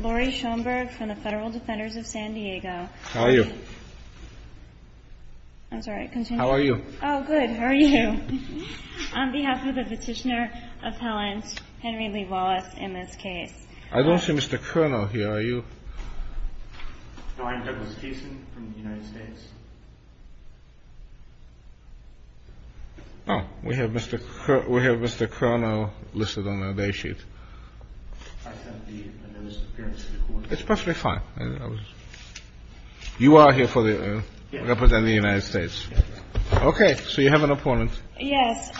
Laurie Schoenberg from the Federal Defenders of San Diego. How are you? I'm sorry, continue. How are you? Oh, good. How are you? On behalf of the petitioner appellant, Henry Lee Wallace, in this case. I don't see Mr. Kernel here. Are you? No, I'm Douglas Keeson from the United States. Oh, we have Mr. Kernel listed on our day sheet. It's perfectly fine. You are here representing the United States. Yes, Your Honor. Okay, so you have an appellant. Yes.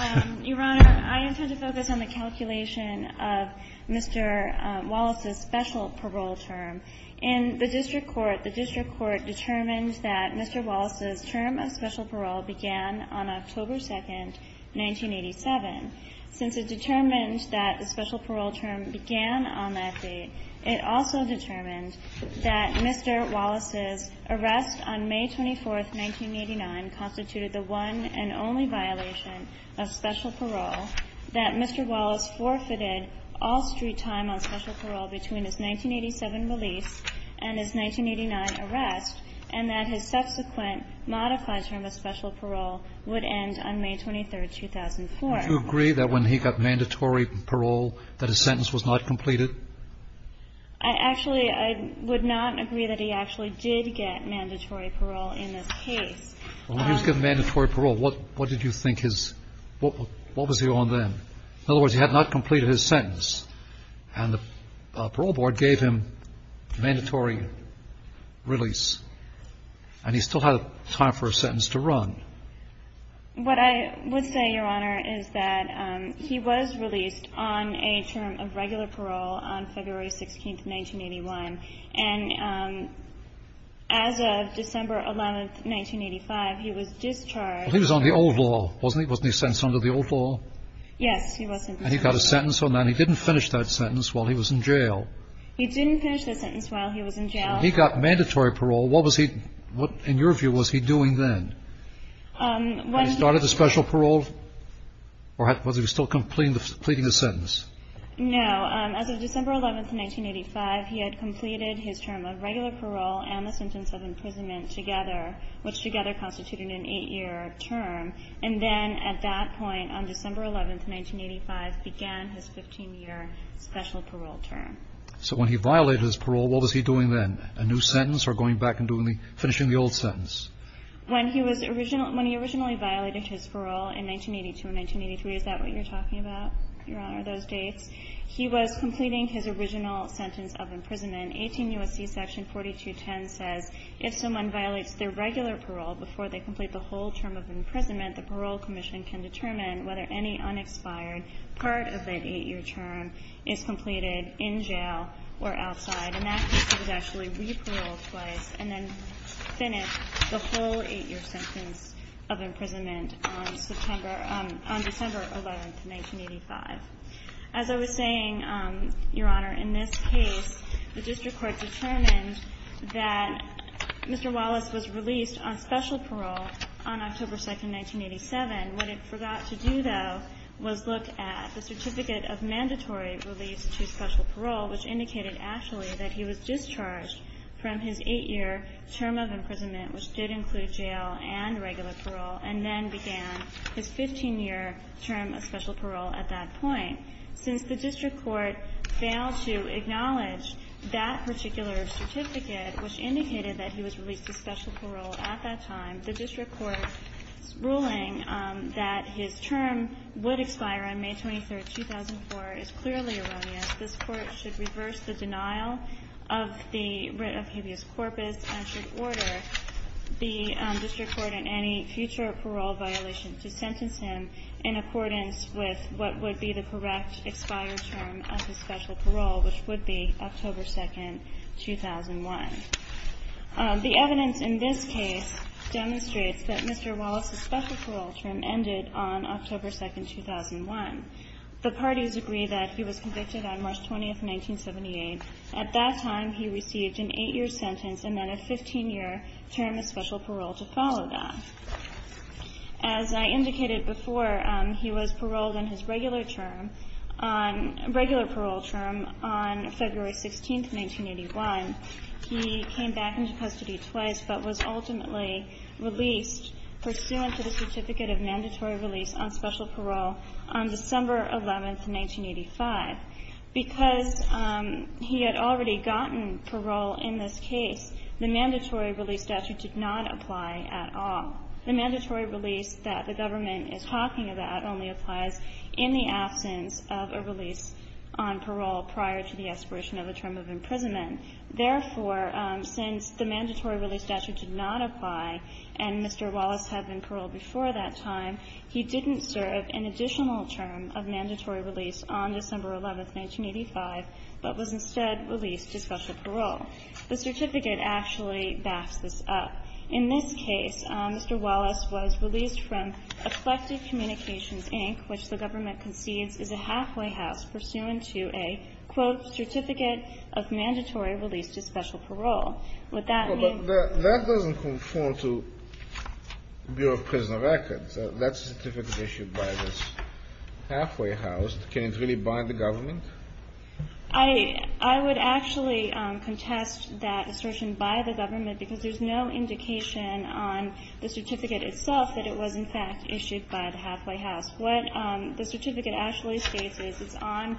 Your Honor, I intend to focus on the calculation of Mr. Wallace's special parole term. In the district court, the district court determined that Mr. Wallace's term of special parole began on October 2, 1987. Since it determined that the special parole term began on that date, it also determined that Mr. Wallace's arrest on May 24, 1989, constituted the one and only violation of special parole, that Mr. Wallace forfeited all street time on special parole between his 1987 release and his 1989 arrest, and that his subsequent modified term of special parole would end on May 23, 2004. Would you agree that when he got mandatory parole that his sentence was not completed? I actually – I would not agree that he actually did get mandatory parole in this case. When he was given mandatory parole, what did you think his – what was he on then? In other words, he had not completed his sentence, and the parole board gave him mandatory release, and he still had time for a sentence to run. What I would say, Your Honor, is that he was released on a term of regular parole on February 16, 1981, and as of December 11, 1985, he was discharged. But he was on the old law, wasn't he? Wasn't he sentenced under the old law? Yes, he was. And he got a sentence on that, and he didn't finish that sentence while he was in jail. He didn't finish the sentence while he was in jail. He got mandatory parole. What was he – what, in your view, was he doing then? Had he started the special parole, or was he still completing the sentence? No. As of December 11, 1985, he had completed his term of regular parole and the sentence of imprisonment together, which together constituted an eight-year term. And then at that point, on December 11, 1985, began his 15-year special parole term. So when he violated his parole, what was he doing then? A new sentence or going back and doing the – finishing the old sentence? When he was – when he originally violated his parole in 1982 and 1983, is that what you're talking about, Your Honor, those dates? He was completing his original sentence of imprisonment. 18 U.S.C. section 4210 says, if someone violates their regular parole before they complete the whole term of imprisonment, the parole commission can determine whether any unexpired part of that eight-year term is completed in jail or outside. And that means he was actually re-paroled twice and then finished the whole eight-year sentence of imprisonment on December 11, 1985. As I was saying, Your Honor, in this case, the district court determined that Mr. Wallace was released on special parole on October 2, 1987. What it forgot to do, though, was look at the certificate of mandatory release to special parole, which indicated actually that he was discharged from his eight-year term of imprisonment, which did include jail and regular parole, and then began his 15-year term of special parole at that point. Since the district court failed to acknowledge that particular certificate, which indicated that he was released to special parole at that time, the district court's ruling that his term would expire on May 23, 2004, is clearly erroneous. This Court should reverse the denial of the writ of habeas corpus and should order the district court in any future parole violation to sentence him in accordance with what would be the correct expired term of his special parole, which would be October 2, 2001. The evidence in this case demonstrates that Mr. Wallace's special parole term ended on October 2, 2001. The parties agree that he was convicted on March 20, 1978. At that time, he received an eight-year sentence and then a 15-year term of special parole to follow that. As I indicated before, he was paroled on his regular parole term on February 16, 1981. He came back into custody twice but was ultimately released pursuant to the certificate of mandatory release on special parole on December 11, 1985. Because he had already gotten parole in this case, the mandatory release statute did not apply at all. The mandatory release that the government is talking about only applies in the absence of a release on parole prior to the expiration of a term of imprisonment. Therefore, since the mandatory release statute did not apply and Mr. Wallace had been paroled before that time, he didn't serve an additional term of mandatory release on December 11, 1985, but was instead released to special parole. The certificate actually backs this up. In this case, Mr. Wallace was released from Effective Communications, Inc., which the government concedes is a halfway house pursuant to a, quote, certificate of mandatory release to special parole. Would that mean that the ---- Kennedy. No, but that doesn't conform to Bureau of Prison Records. That certificate issued by this halfway house, can it really bind the government? I would actually contest that assertion by the government because there's no indication on the certificate itself that it was, in fact, issued by the halfway house. What the certificate actually states is it's on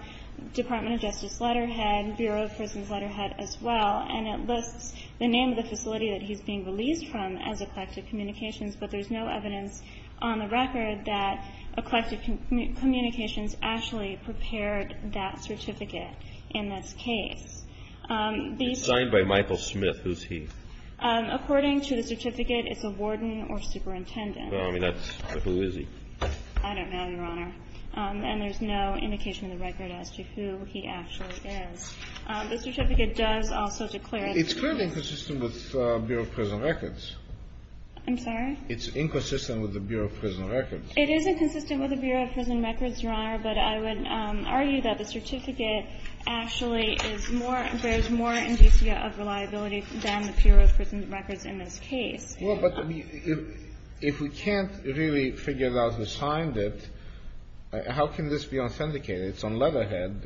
Department of Justice letterhead, Bureau of Prisons letterhead as well, and it lists the name of the facility that he's being released from as Effective Communications, but there's no evidence on the record that Effective Communications actually prepared that certificate in this case. The ---- It's signed by Michael Smith. Who's he? According to the certificate, it's a warden or superintendent. Well, I mean, that's ---- But who is he? I don't know, Your Honor. And there's no indication in the record as to who he actually is. The certificate does also declare ---- It's clearly inconsistent with Bureau of Prison Records. I'm sorry? It's inconsistent with the Bureau of Prison Records. It is inconsistent with the Bureau of Prison Records, Your Honor, but I would argue that the certificate actually is more ---- bears more indicia of reliability than the Bureau of Prison Records in this case. Well, but if we can't really figure out who signed it, how can this be authenticated? It's on letterhead.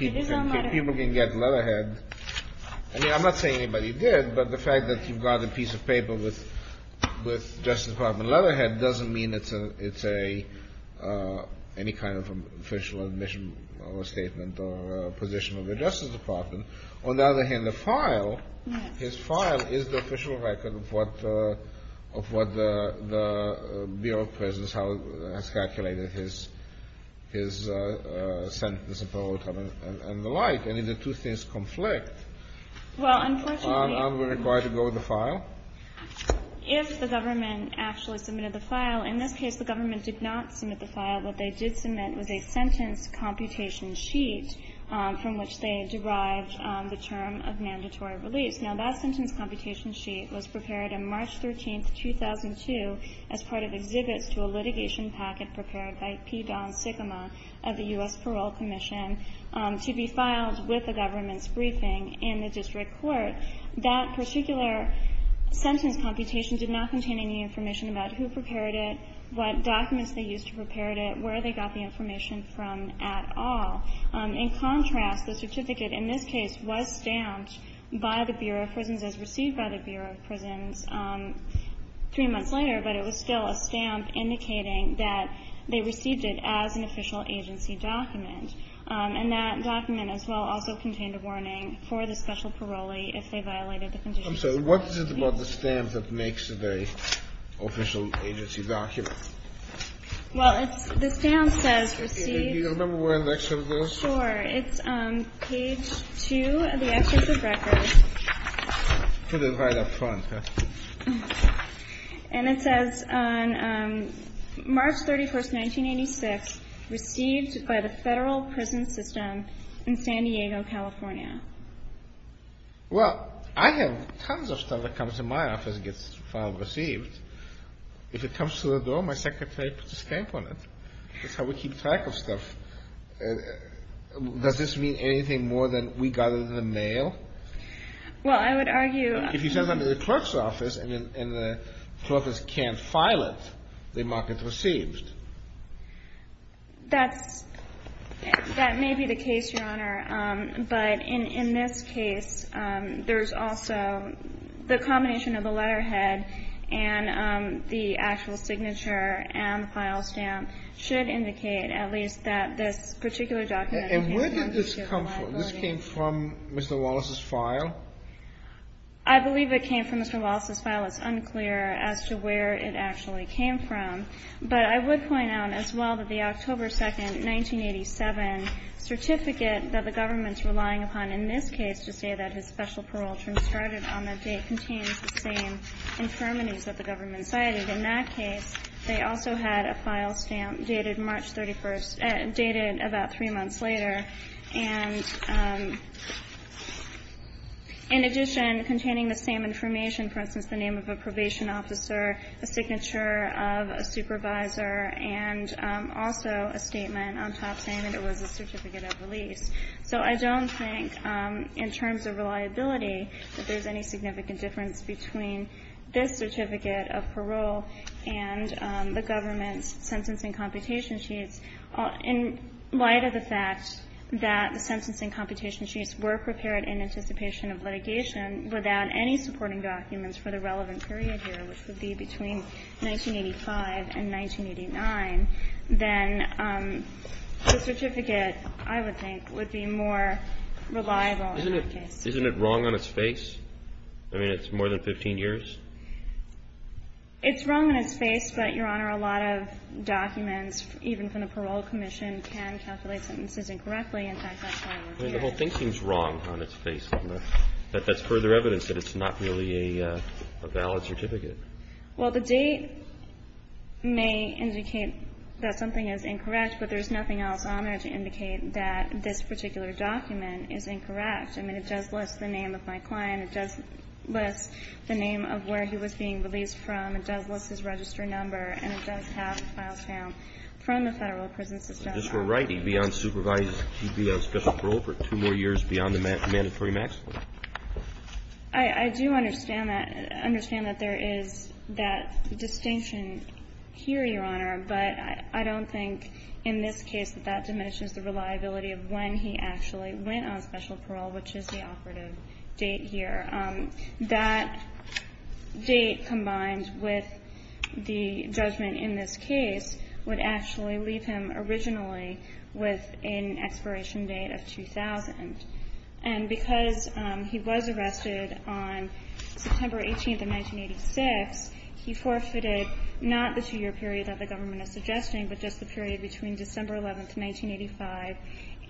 It is on letterhead. People can get letterhead. I mean, I'm not saying anybody did, but the fact that you've got a piece of paper with Justice Department letterhead doesn't mean it's a ---- any kind of official admission or statement or position of the Justice Department. On the other hand, the file, his file is the official record of what the Bureau of Prison has calculated his sentence and parole time and the like. I mean, the two things conflict. Well, unfortunately ---- So now we're required to go with the file? If the government actually submitted the file. In this case, the government did not submit the file. What they did submit was a sentence computation sheet from which they derived the term of mandatory release. Now, that sentence computation sheet was prepared on March 13, 2002, as part of exhibits to a litigation packet prepared by P. Don Sigma of the U.S. Parole Commission to be filed with the government's briefing in the district court. That particular sentence computation did not contain any information about who prepared it, what documents they used to prepare it, where they got the information from at all. In contrast, the certificate in this case was stamped by the Bureau of Prisons as received by the Bureau of Prisons three months later, but it was still a stamp indicating that they received it as an official agency document. And that document, as well, also contained a warning for the special parolee if they violated the conditions. I'm sorry. What is it about the stamp that makes it an official agency document? Well, it's the stamp says received. Do you remember where the excerpt goes? Sure. It's page 2 of the excerpt of records. Put it right up front. And it says on March 31st, 1986, received by the Federal Prison System in San Diego, California. Well, I have tons of stuff that comes in my office and gets filed and received. If it comes to the door, my secretary puts a stamp on it. That's how we keep track of stuff. Does this mean anything more than we got it in the mail? Well, I would argue that if you send them to the clerk's office and the clerk can't file it, they mark it received. That may be the case, Your Honor. But in this case, there's also the combination of the letterhead and the actual signature and the file stamp should indicate at least that this particular document And where did this come from? This came from Mr. Wallace's file? I believe it came from Mr. Wallace's file. It's unclear as to where it actually came from. But I would point out as well that the October 2, 1987 certificate that the government is relying upon in this case to say that his special parole term started on that date contains the same infirmities that the government cited. In that case, they also had a file stamp dated March 31st, dated about three months later. And in addition, containing the same information, for instance, the name of a probation officer, a signature of a supervisor, and also a statement on top saying that it was a certificate of release. So I don't think in terms of reliability that there's any significant difference between this certificate of parole and the government's sentencing computation sheets in light of the fact that the sentencing computation sheets were prepared in anticipation of litigation without any supporting documents for the relevant period here, which would be between 1985 and 1989, then the certificate, I would think, would be more reliable in that case. Isn't it wrong on its face? I mean, it's more than 15 years? It's wrong on its face, but, Your Honor, a lot of documents, even from the Parole Commission, can calculate sentences incorrectly. I mean, the whole thinking is wrong on its face. That's further evidence that it's not really a valid certificate. Well, the date may indicate that something is incorrect, but there's nothing else on there to indicate that this particular document is incorrect. I mean, it does list the name of my client. It does list the name of where he was being released from. It does list his registered number. And it does have files found from the federal prison system. But just for writing, beyond supervised, he'd be on special parole for two more years beyond the mandatory maximum. I do understand that. I understand that there is that distinction here, Your Honor. But I don't think in this case that that diminishes the reliability of when he actually went on special parole, which is the operative date here. That date combined with the judgment in this case would actually leave him originally with an expiration date of 2000. And because he was arrested on September 18th of 1986, he forfeited not the two-year period that the government is suggesting, but just the period between December 11th of 1985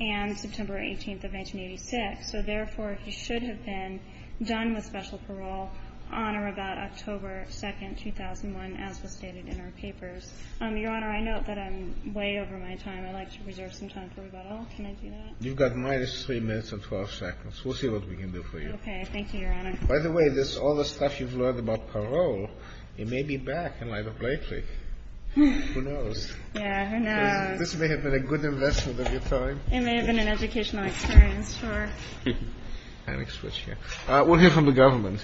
and September 18th of 1986. So, therefore, he should have been done with special parole on or about October 2nd, 2001, as was stated in our papers. Your Honor, I note that I'm way over my time. I'd like to reserve some time for rebuttal. Can I do that? You've got minus 3 minutes and 12 seconds. We'll see what we can do for you. Okay. Thank you, Your Honor. By the way, all the stuff you've learned about parole, it may be back in light of Blakely. Who knows? Yeah. Who knows? This may have been a good investment of your time. It may have been an educational experience for her. I'm going to switch here. We'll hear from the government.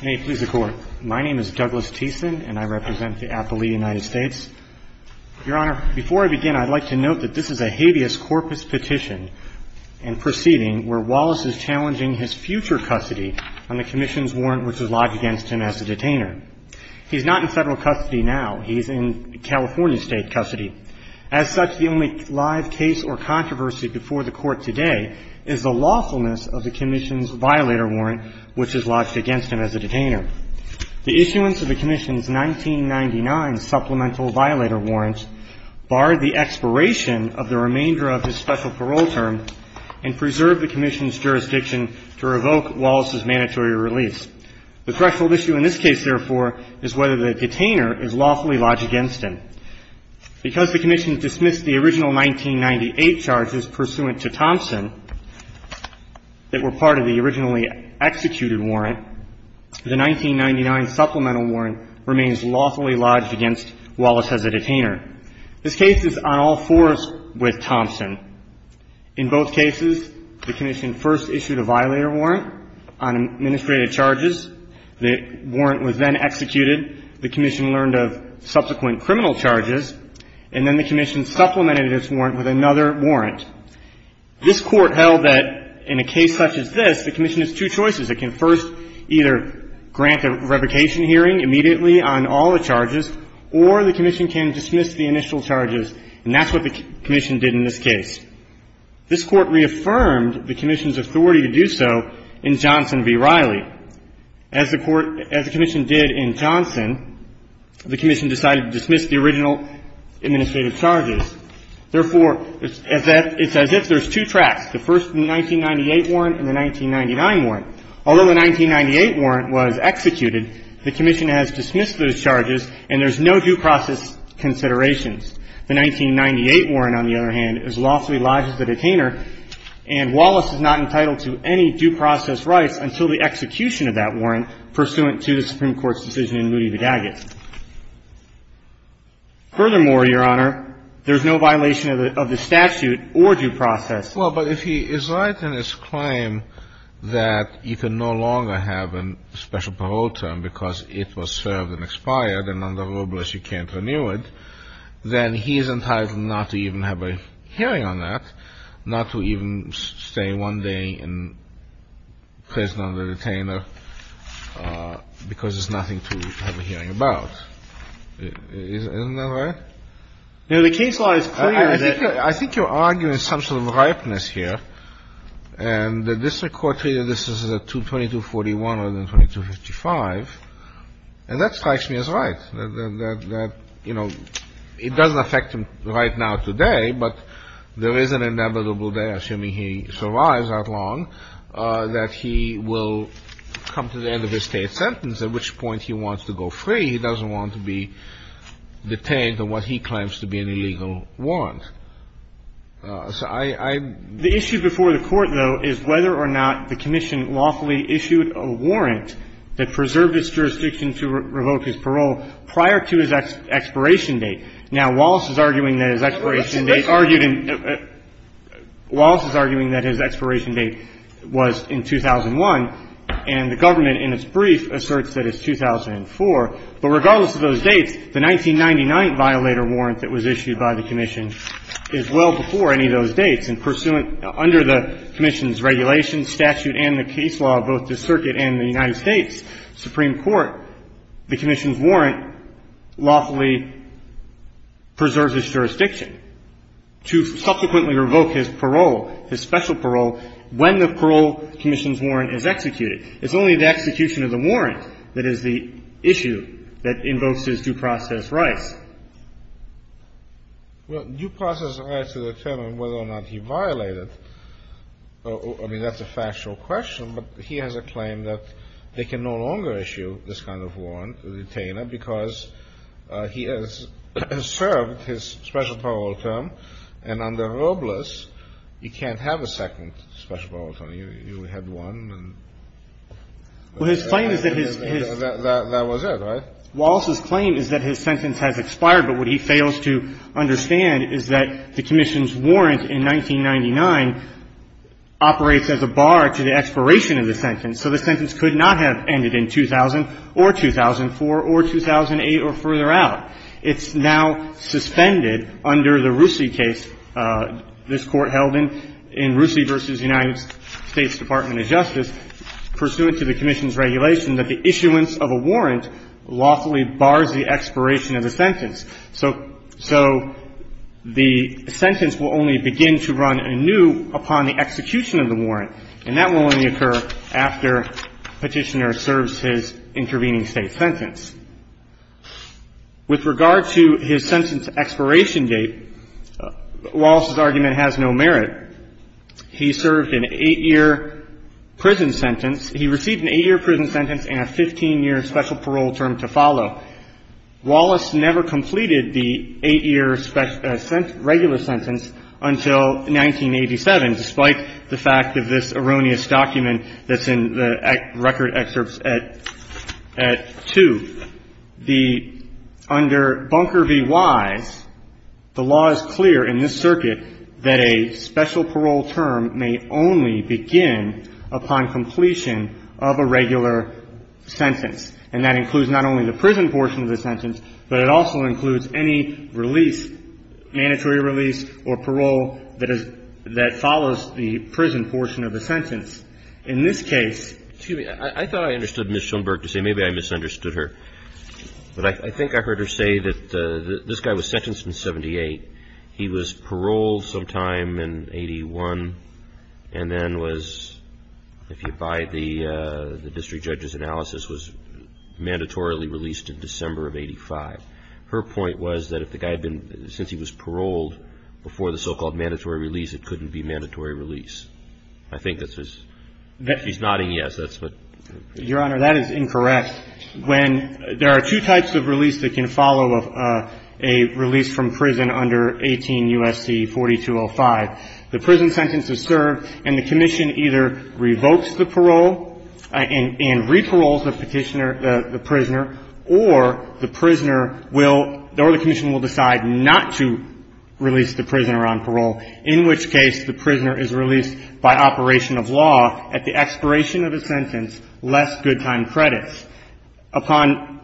Hey. Please record. My name is Douglas Thiessen, and I represent the appellee United States. Your Honor, before I begin, I'd like to note that this is a habeas corpus petition and proceeding where Wallace is challenging his future custody on the commission's warrant, which was lodged against him as a detainer. He's not in Federal custody now. He's in California State custody. As such, the only live case or controversy before the Court today is the lawfulness of the commission's violator warrant, which is lodged against him as a detainer. The issuance of the commission's 1999 supplemental violator warrant barred the expiration of the remainder of his special parole term and preserved the commission's jurisdiction to revoke Wallace's mandatory release. The threshold issue in this case, therefore, is whether the detainer is lawfully lodged against him. Because the commission dismissed the original 1998 charges pursuant to Thompson that were part of the originally executed warrant, the 1999 supplemental warrant remains lawfully lodged against Wallace as a detainer. This case is on all fours with Thompson. In both cases, the commission first issued a violator warrant on administrative charges. The warrant was then executed. The commission learned of subsequent criminal charges, and then the commission supplemented its warrant with another warrant. This Court held that in a case such as this, the commission has two choices. It can first either grant a revocation hearing immediately on all the charges, or the commission can dismiss the initial charges. And that's what the commission did in this case. This Court reaffirmed the commission's authority to do so in Johnson v. Riley. As the Court – as the commission did in Johnson, the commission decided to dismiss the original administrative charges. Therefore, it's as if there's two tracks, the first 1998 warrant and the 1999 warrant. Although the 1998 warrant was executed, the commission has dismissed those charges and there's no due process considerations. The 1998 warrant, on the other hand, is lawfully lodged as a detainer, and Wallace is not entitled to any due process rights until the execution of that warrant pursuant to the Supreme Court's decision in Moody v. Daggett. Furthermore, Your Honor, there's no violation of the statute or due process. Well, but if he is right in his claim that you can no longer have a special parole term because it was served and expired and under Robles you can't renew it, then he is entitled not to even have a hearing on that, not to even stay one day in prison under the detainer because there's nothing to have a hearing about. Isn't that right? Now, the case law is clear that ---- I think you're arguing some sort of ripeness here. And the district court treated this as a 2241 rather than 2255. And that strikes me as right, that, you know, it doesn't affect him right now today, but there is an inevitable day, assuming he survives that long, that he will come to the end of his state sentence, at which point he wants to go free. He doesn't want to be detained on what he claims to be an illegal warrant. So I ---- The issue before the Court, though, is whether or not the commission lawfully issued a warrant that preserved its jurisdiction to revoke his parole prior to his expiration date. Now, Wallace is arguing that his expiration date argued in ---- Wallace is arguing that his expiration date was in 2001, and the government in its case was in 2004. But regardless of those dates, the 1999 violator warrant that was issued by the commission is well before any of those dates. And pursuant under the commission's regulations, statute, and the case law of both the Circuit and the United States Supreme Court, the commission's warrant lawfully preserves its jurisdiction to subsequently revoke his parole, his special parole, when the parole commission's warrant is executed. It's only the execution of the warrant that is the issue that invokes his due process rights. Well, due process rights determine whether or not he violated. I mean, that's a factual question, but he has a claim that they can no longer issue this kind of warrant, the detainer, because he has served his special parole term, and under Robles, you can't have a second special parole term. You know, you would have one and ---- Well, his claim is that his ---- That was it, right? Wallace's claim is that his sentence has expired, but what he fails to understand is that the commission's warrant in 1999 operates as a bar to the expiration of the sentence. So the sentence could not have ended in 2000 or 2004 or 2008 or further out. It's now suspended under the Roosie case, this Court held in Roosie v. United States Department of Justice, pursuant to the commission's regulation that the issuance of a warrant lawfully bars the expiration of the sentence. So the sentence will only begin to run anew upon the execution of the warrant, and that will only occur after Petitioner serves his intervening state sentence. With regard to his sentence expiration date, Wallace's argument has no merit. He served an 8-year prison sentence. He received an 8-year prison sentence and a 15-year special parole term to follow. Wallace never completed the 8-year regular sentence until 1987, despite the fact of this erroneous document that's in the record excerpts at 2. Under Bunker v. Wise, the law is clear in this circuit that a special parole term may only begin upon completion of a regular sentence, and that includes not only the prison portion of the sentence, but it also includes any release, mandatory release or parole that follows the prison portion of the sentence. In this case ---- Excuse me. I thought I understood Ms. Schoenberg to say maybe I misunderstood her. But I think I heard her say that this guy was sentenced in 78. He was paroled sometime in 81 and then was, if you buy the district judge's analysis, was mandatorily released in December of 85. Her point was that if the guy had been ---- since he was paroled before the so-called mandatory release, it couldn't be mandatory release. I think this was ---- she's nodding yes. That's what ---- Your Honor, that is incorrect. When ---- there are two types of release that can follow a release from prison under 18 U.S.C. 4205. The prison sentence is served and the commission either revokes the parole and re-paroles the petitioner, the prisoner, or the prisoner will ---- or the commission will decide not to release the prisoner on parole, in which case the prisoner is released by operation of law at the expiration of a sentence, less good time credits. Upon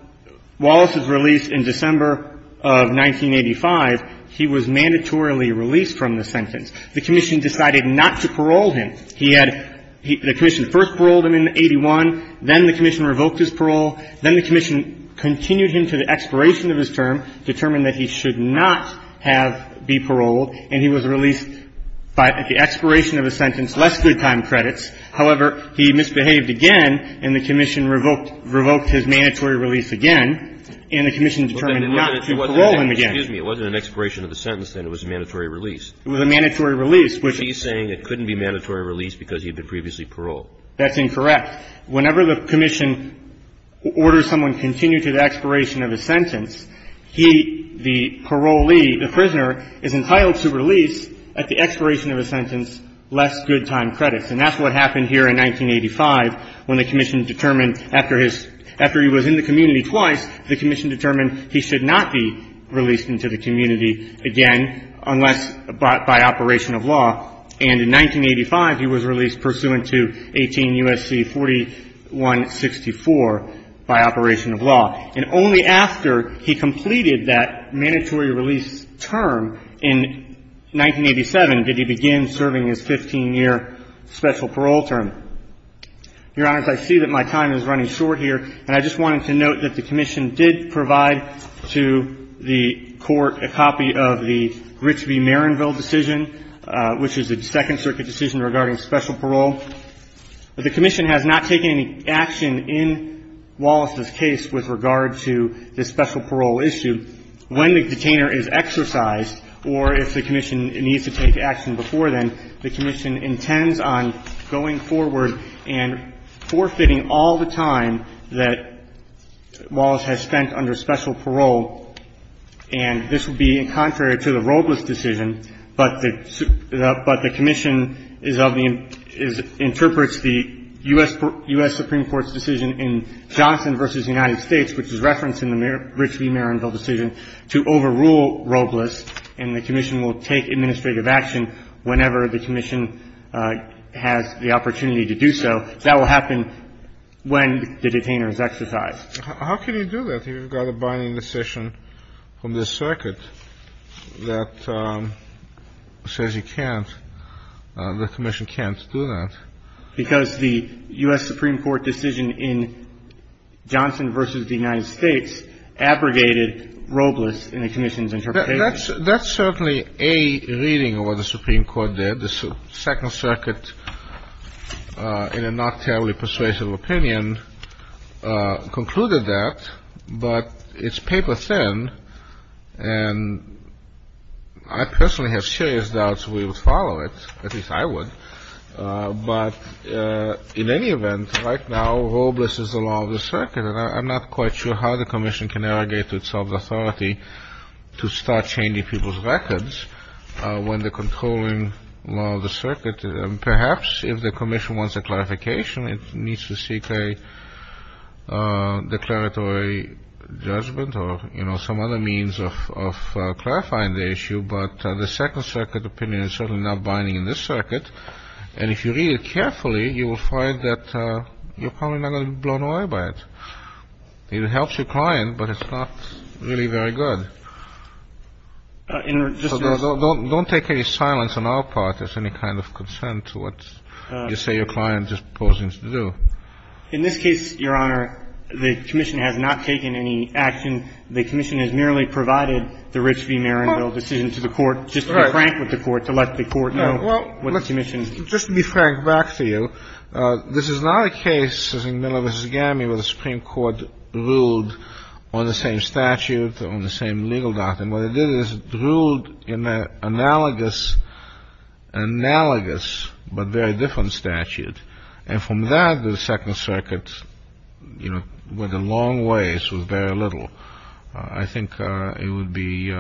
Wallace's release in December of 1985, he was mandatorily released from the sentence. The commission decided not to parole him. He had ---- the commission first paroled him in 81. Then the commission revoked his parole. Then the commission continued him to the expiration of his term, determined that he should not have been paroled, and he was released by the expiration of a sentence, less good time credits. However, he misbehaved again, and the commission revoked his mandatory release again, and the commission determined not to parole him again. It wasn't an expiration of the sentence, then. It was a mandatory release. It was a mandatory release. She's saying it couldn't be mandatory release because he had been previously paroled. That's incorrect. Whenever the commission orders someone to continue to the expiration of a sentence, he, the parolee, the prisoner, is entitled to release at the expiration of a sentence, less good time credits. And that's what happened here in 1985 when the commission determined after his ---- after he was in the community twice, the commission determined he should not be released into the community again unless by operation of law. And in 1985, he was released pursuant to 18 U.S.C. 4164 by operation of law. And only after he completed that mandatory release term in 1987 did he begin serving his 15-year special parole term. Your Honors, I see that my time is running short here, and I just wanted to note that the commission did provide to the Court a copy of the Grisby-Marrenville decision, which is a Second Circuit decision regarding special parole. The commission has not taken any action in Wallace's case with regard to the special parole issue. When the detainer is exercised or if the commission needs to take action before then, the commission intends on going forward and forfeiting all the time that Wallace has spent under special parole. And this would be contrary to the Robles decision, but the commission is of the ---- interprets the U.S. Supreme Court's decision in Johnson v. United States, which is referenced in the Grisby-Marrenville decision, to overrule Robles, and the commission will take administrative action whenever the commission has the opportunity to do so. That will happen when the detainer is exercised. How can you do that if you've got a binding decision from the circuit that says you can't ---- the commission can't do that? Because the U.S. Supreme Court decision in Johnson v. United States abrogated Robles in the commission's interpretation. That's certainly a reading of what the Supreme Court did. The second circuit, in a not terribly persuasive opinion, concluded that. But it's paper thin, and I personally have serious doubts we would follow it. At least I would. But in any event, right now, Robles is the law of the circuit, and I'm not quite sure how the commission can arrogate to itself the authority to start changing people's records when the controlling law of the circuit ---- perhaps if the commission wants a clarification, it needs to seek a declaratory judgment or, you know, some other means of clarifying the issue. But the second circuit opinion is certainly not binding in this circuit, and if you read it carefully, you will find that you're probably not going to be blown away by it. It helps your client, but it's not really very good. So don't take any silence on our part as any kind of consent to what you say your client is proposing to do. In this case, Your Honor, the commission has not taken any action. The commission has merely provided the Rich v. Maranville decision to the court just to be frank with the court, to let the court know what the commission ---- Just to be frank back to you, this is not a case, as in Miller v. Gammy, where the Supreme Court ruled on the same statute, on the same legal doctrine. What it did is it ruled in an analogous but very different statute. And from that, the second circuit, you know, went a long ways with very little. So I think it would be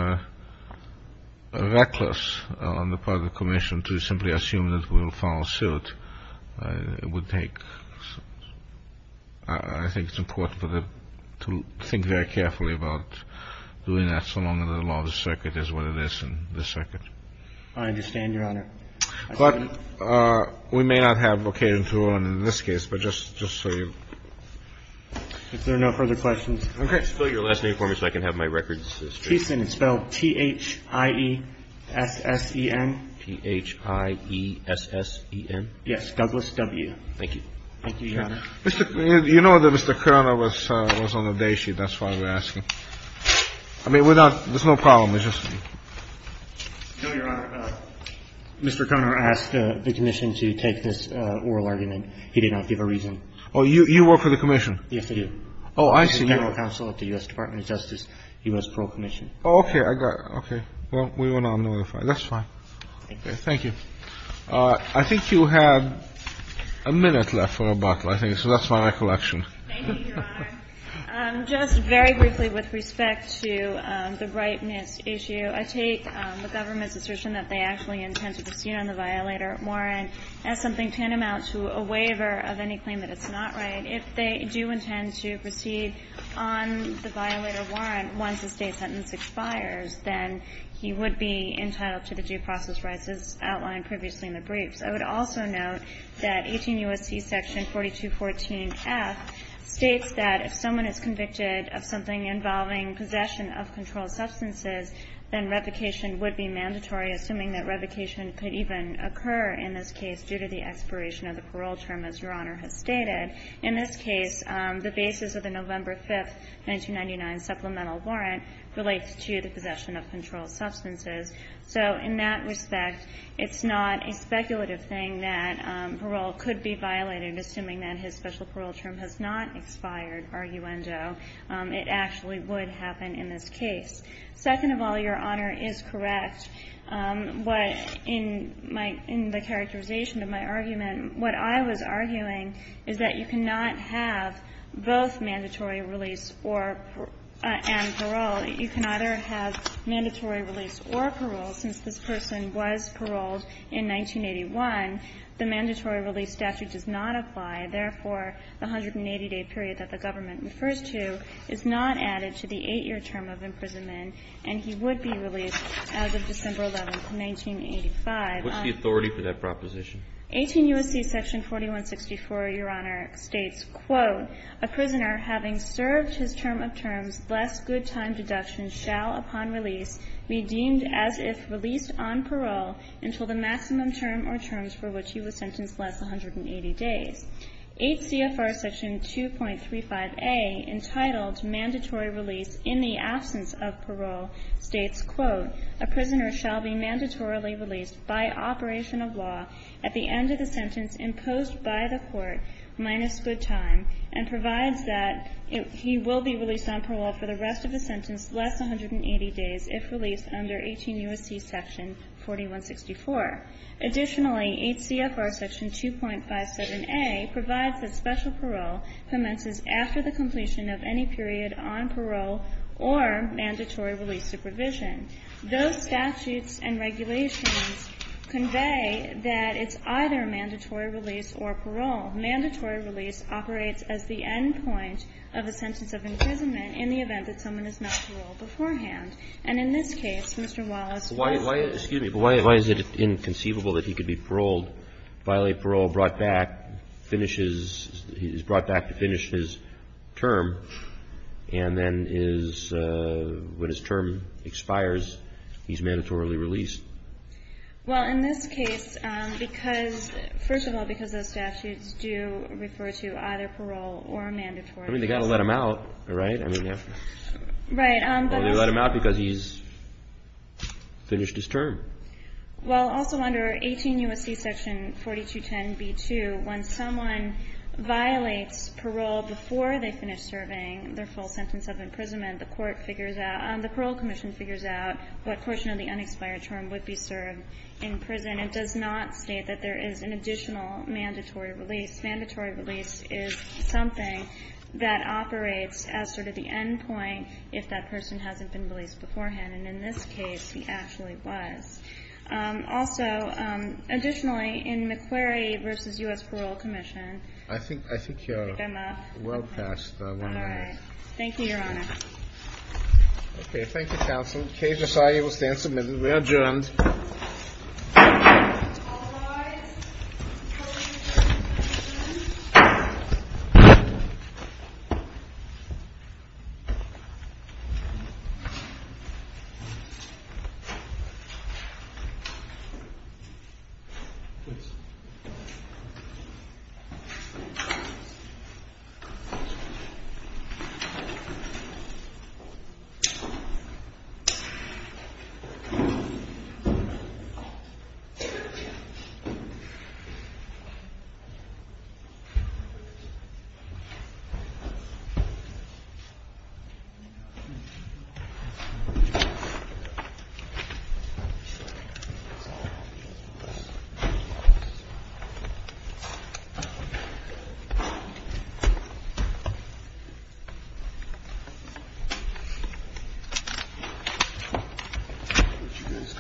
reckless on the part of the commission to simply assume that we will follow suit. It would take ---- I think it's important for the ---- to think very carefully about doing that, so long as the law of the circuit is what it is in this circuit. I understand, Your Honor. But we may not have a case in this case, but just so you ---- If there are no further questions. Okay. Can you spell your last name for me so I can have my records? Cheeson. It's spelled T-H-I-E-S-S-E-N. T-H-I-E-S-S-E-N? Douglas W. Thank you. Thank you, Your Honor. You know that Mr. Conner was on the day sheet. That's why we're asking. I mean, we're not ---- there's no problem. It's just ---- No, Your Honor. Mr. Conner asked the commission to take this oral argument. He did not give a reason. Oh, you work for the commission? Yes, I do. Oh, I see. I'm the counsel at the U.S. Department of Justice, U.S. Parole Commission. Oh, okay. I got it. Okay. Well, we will not notify. That's fine. Thank you. Thank you. I think you have a minute left for a bottle, I think. So that's my recollection. Thank you, Your Honor. Just very briefly with respect to the brightness issue, I take the government's assertion that they actually intend to proceed on the violator warrant as something to a waiver of any claim that it's not right. If they do intend to proceed on the violator warrant once the state sentence expires, then he would be entitled to the due process rights as outlined previously in the briefs. I would also note that 18 U.S.C. section 4214F states that if someone is convicted of something involving possession of controlled substances, then revocation would be mandatory, assuming that revocation could even occur in this case due to the expiration of the parole term, as Your Honor has stated. In this case, the basis of the November 5, 1999 supplemental warrant relates to the possession of controlled substances. So in that respect, it's not a speculative thing that parole could be violated, assuming that his special parole term has not expired, arguendo. It actually would happen in this case. Second of all, Your Honor is correct. What in my – in the characterization of my argument, what I was arguing is that you cannot have both mandatory release or – and parole. You can either have mandatory release or parole. Since this person was paroled in 1981, the mandatory release statute does not apply. Therefore, the 180-day period that the government refers to is not added to the 8-year term of imprisonment, and he would be released as of December 11, 1985. What's the authority for that proposition? 18 U.S.C. section 4164, Your Honor, states, quote, A prisoner having served his term of terms, less good time deductions shall, upon release, be deemed as if released on parole until the maximum term or terms for which he was sentenced last 180 days. HCFR section 2.35a, entitled Mandatory Release in the Absence of Parole, states, quote, A prisoner shall be mandatorily released by operation of law at the end of the sentence imposed by the court, minus good time, and provides that he will be released on parole for the rest of the sentence, less 180 days, if released under 18 U.S.C. section 4164. Additionally, HCFR section 2.57a provides that special parole commences after the completion of any period on parole or mandatory release supervision. Those statutes and regulations convey that it's either mandatory release or parole. Mandatory release operates as the end point of a sentence of imprisonment in the event that someone is not paroled beforehand. And in this case, Mr. Wallace was. Excuse me, but why is it inconceivable that he could be paroled, violate parole, brought back, finishes, is brought back to finish his term, and then is, when his term expires, he's mandatorily released? Well, in this case, because, first of all, because those statutes do refer to either parole or mandatory release. I mean, they've got to let him out, right? Right. Or they let him out because he's finished his term. Well, also under 18 U.S.C. section 4210b2, when someone violates parole before they finish serving their full sentence of imprisonment, the court figures out, the parole commission figures out what portion of the unexpired term would be served in prison. It does not state that there is an additional mandatory release. Mandatory release is something that operates as sort of the end point if that person hasn't been released beforehand. And in this case, he actually was. Also, additionally, in McQuarrie v. U.S. Parole Commission. I think you're well past one minute. All right. Thank you, Your Honor. Okay. Thank you, counsel. Case decided. We'll stand submitted. We're adjourned. All rise.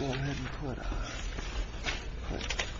And put on.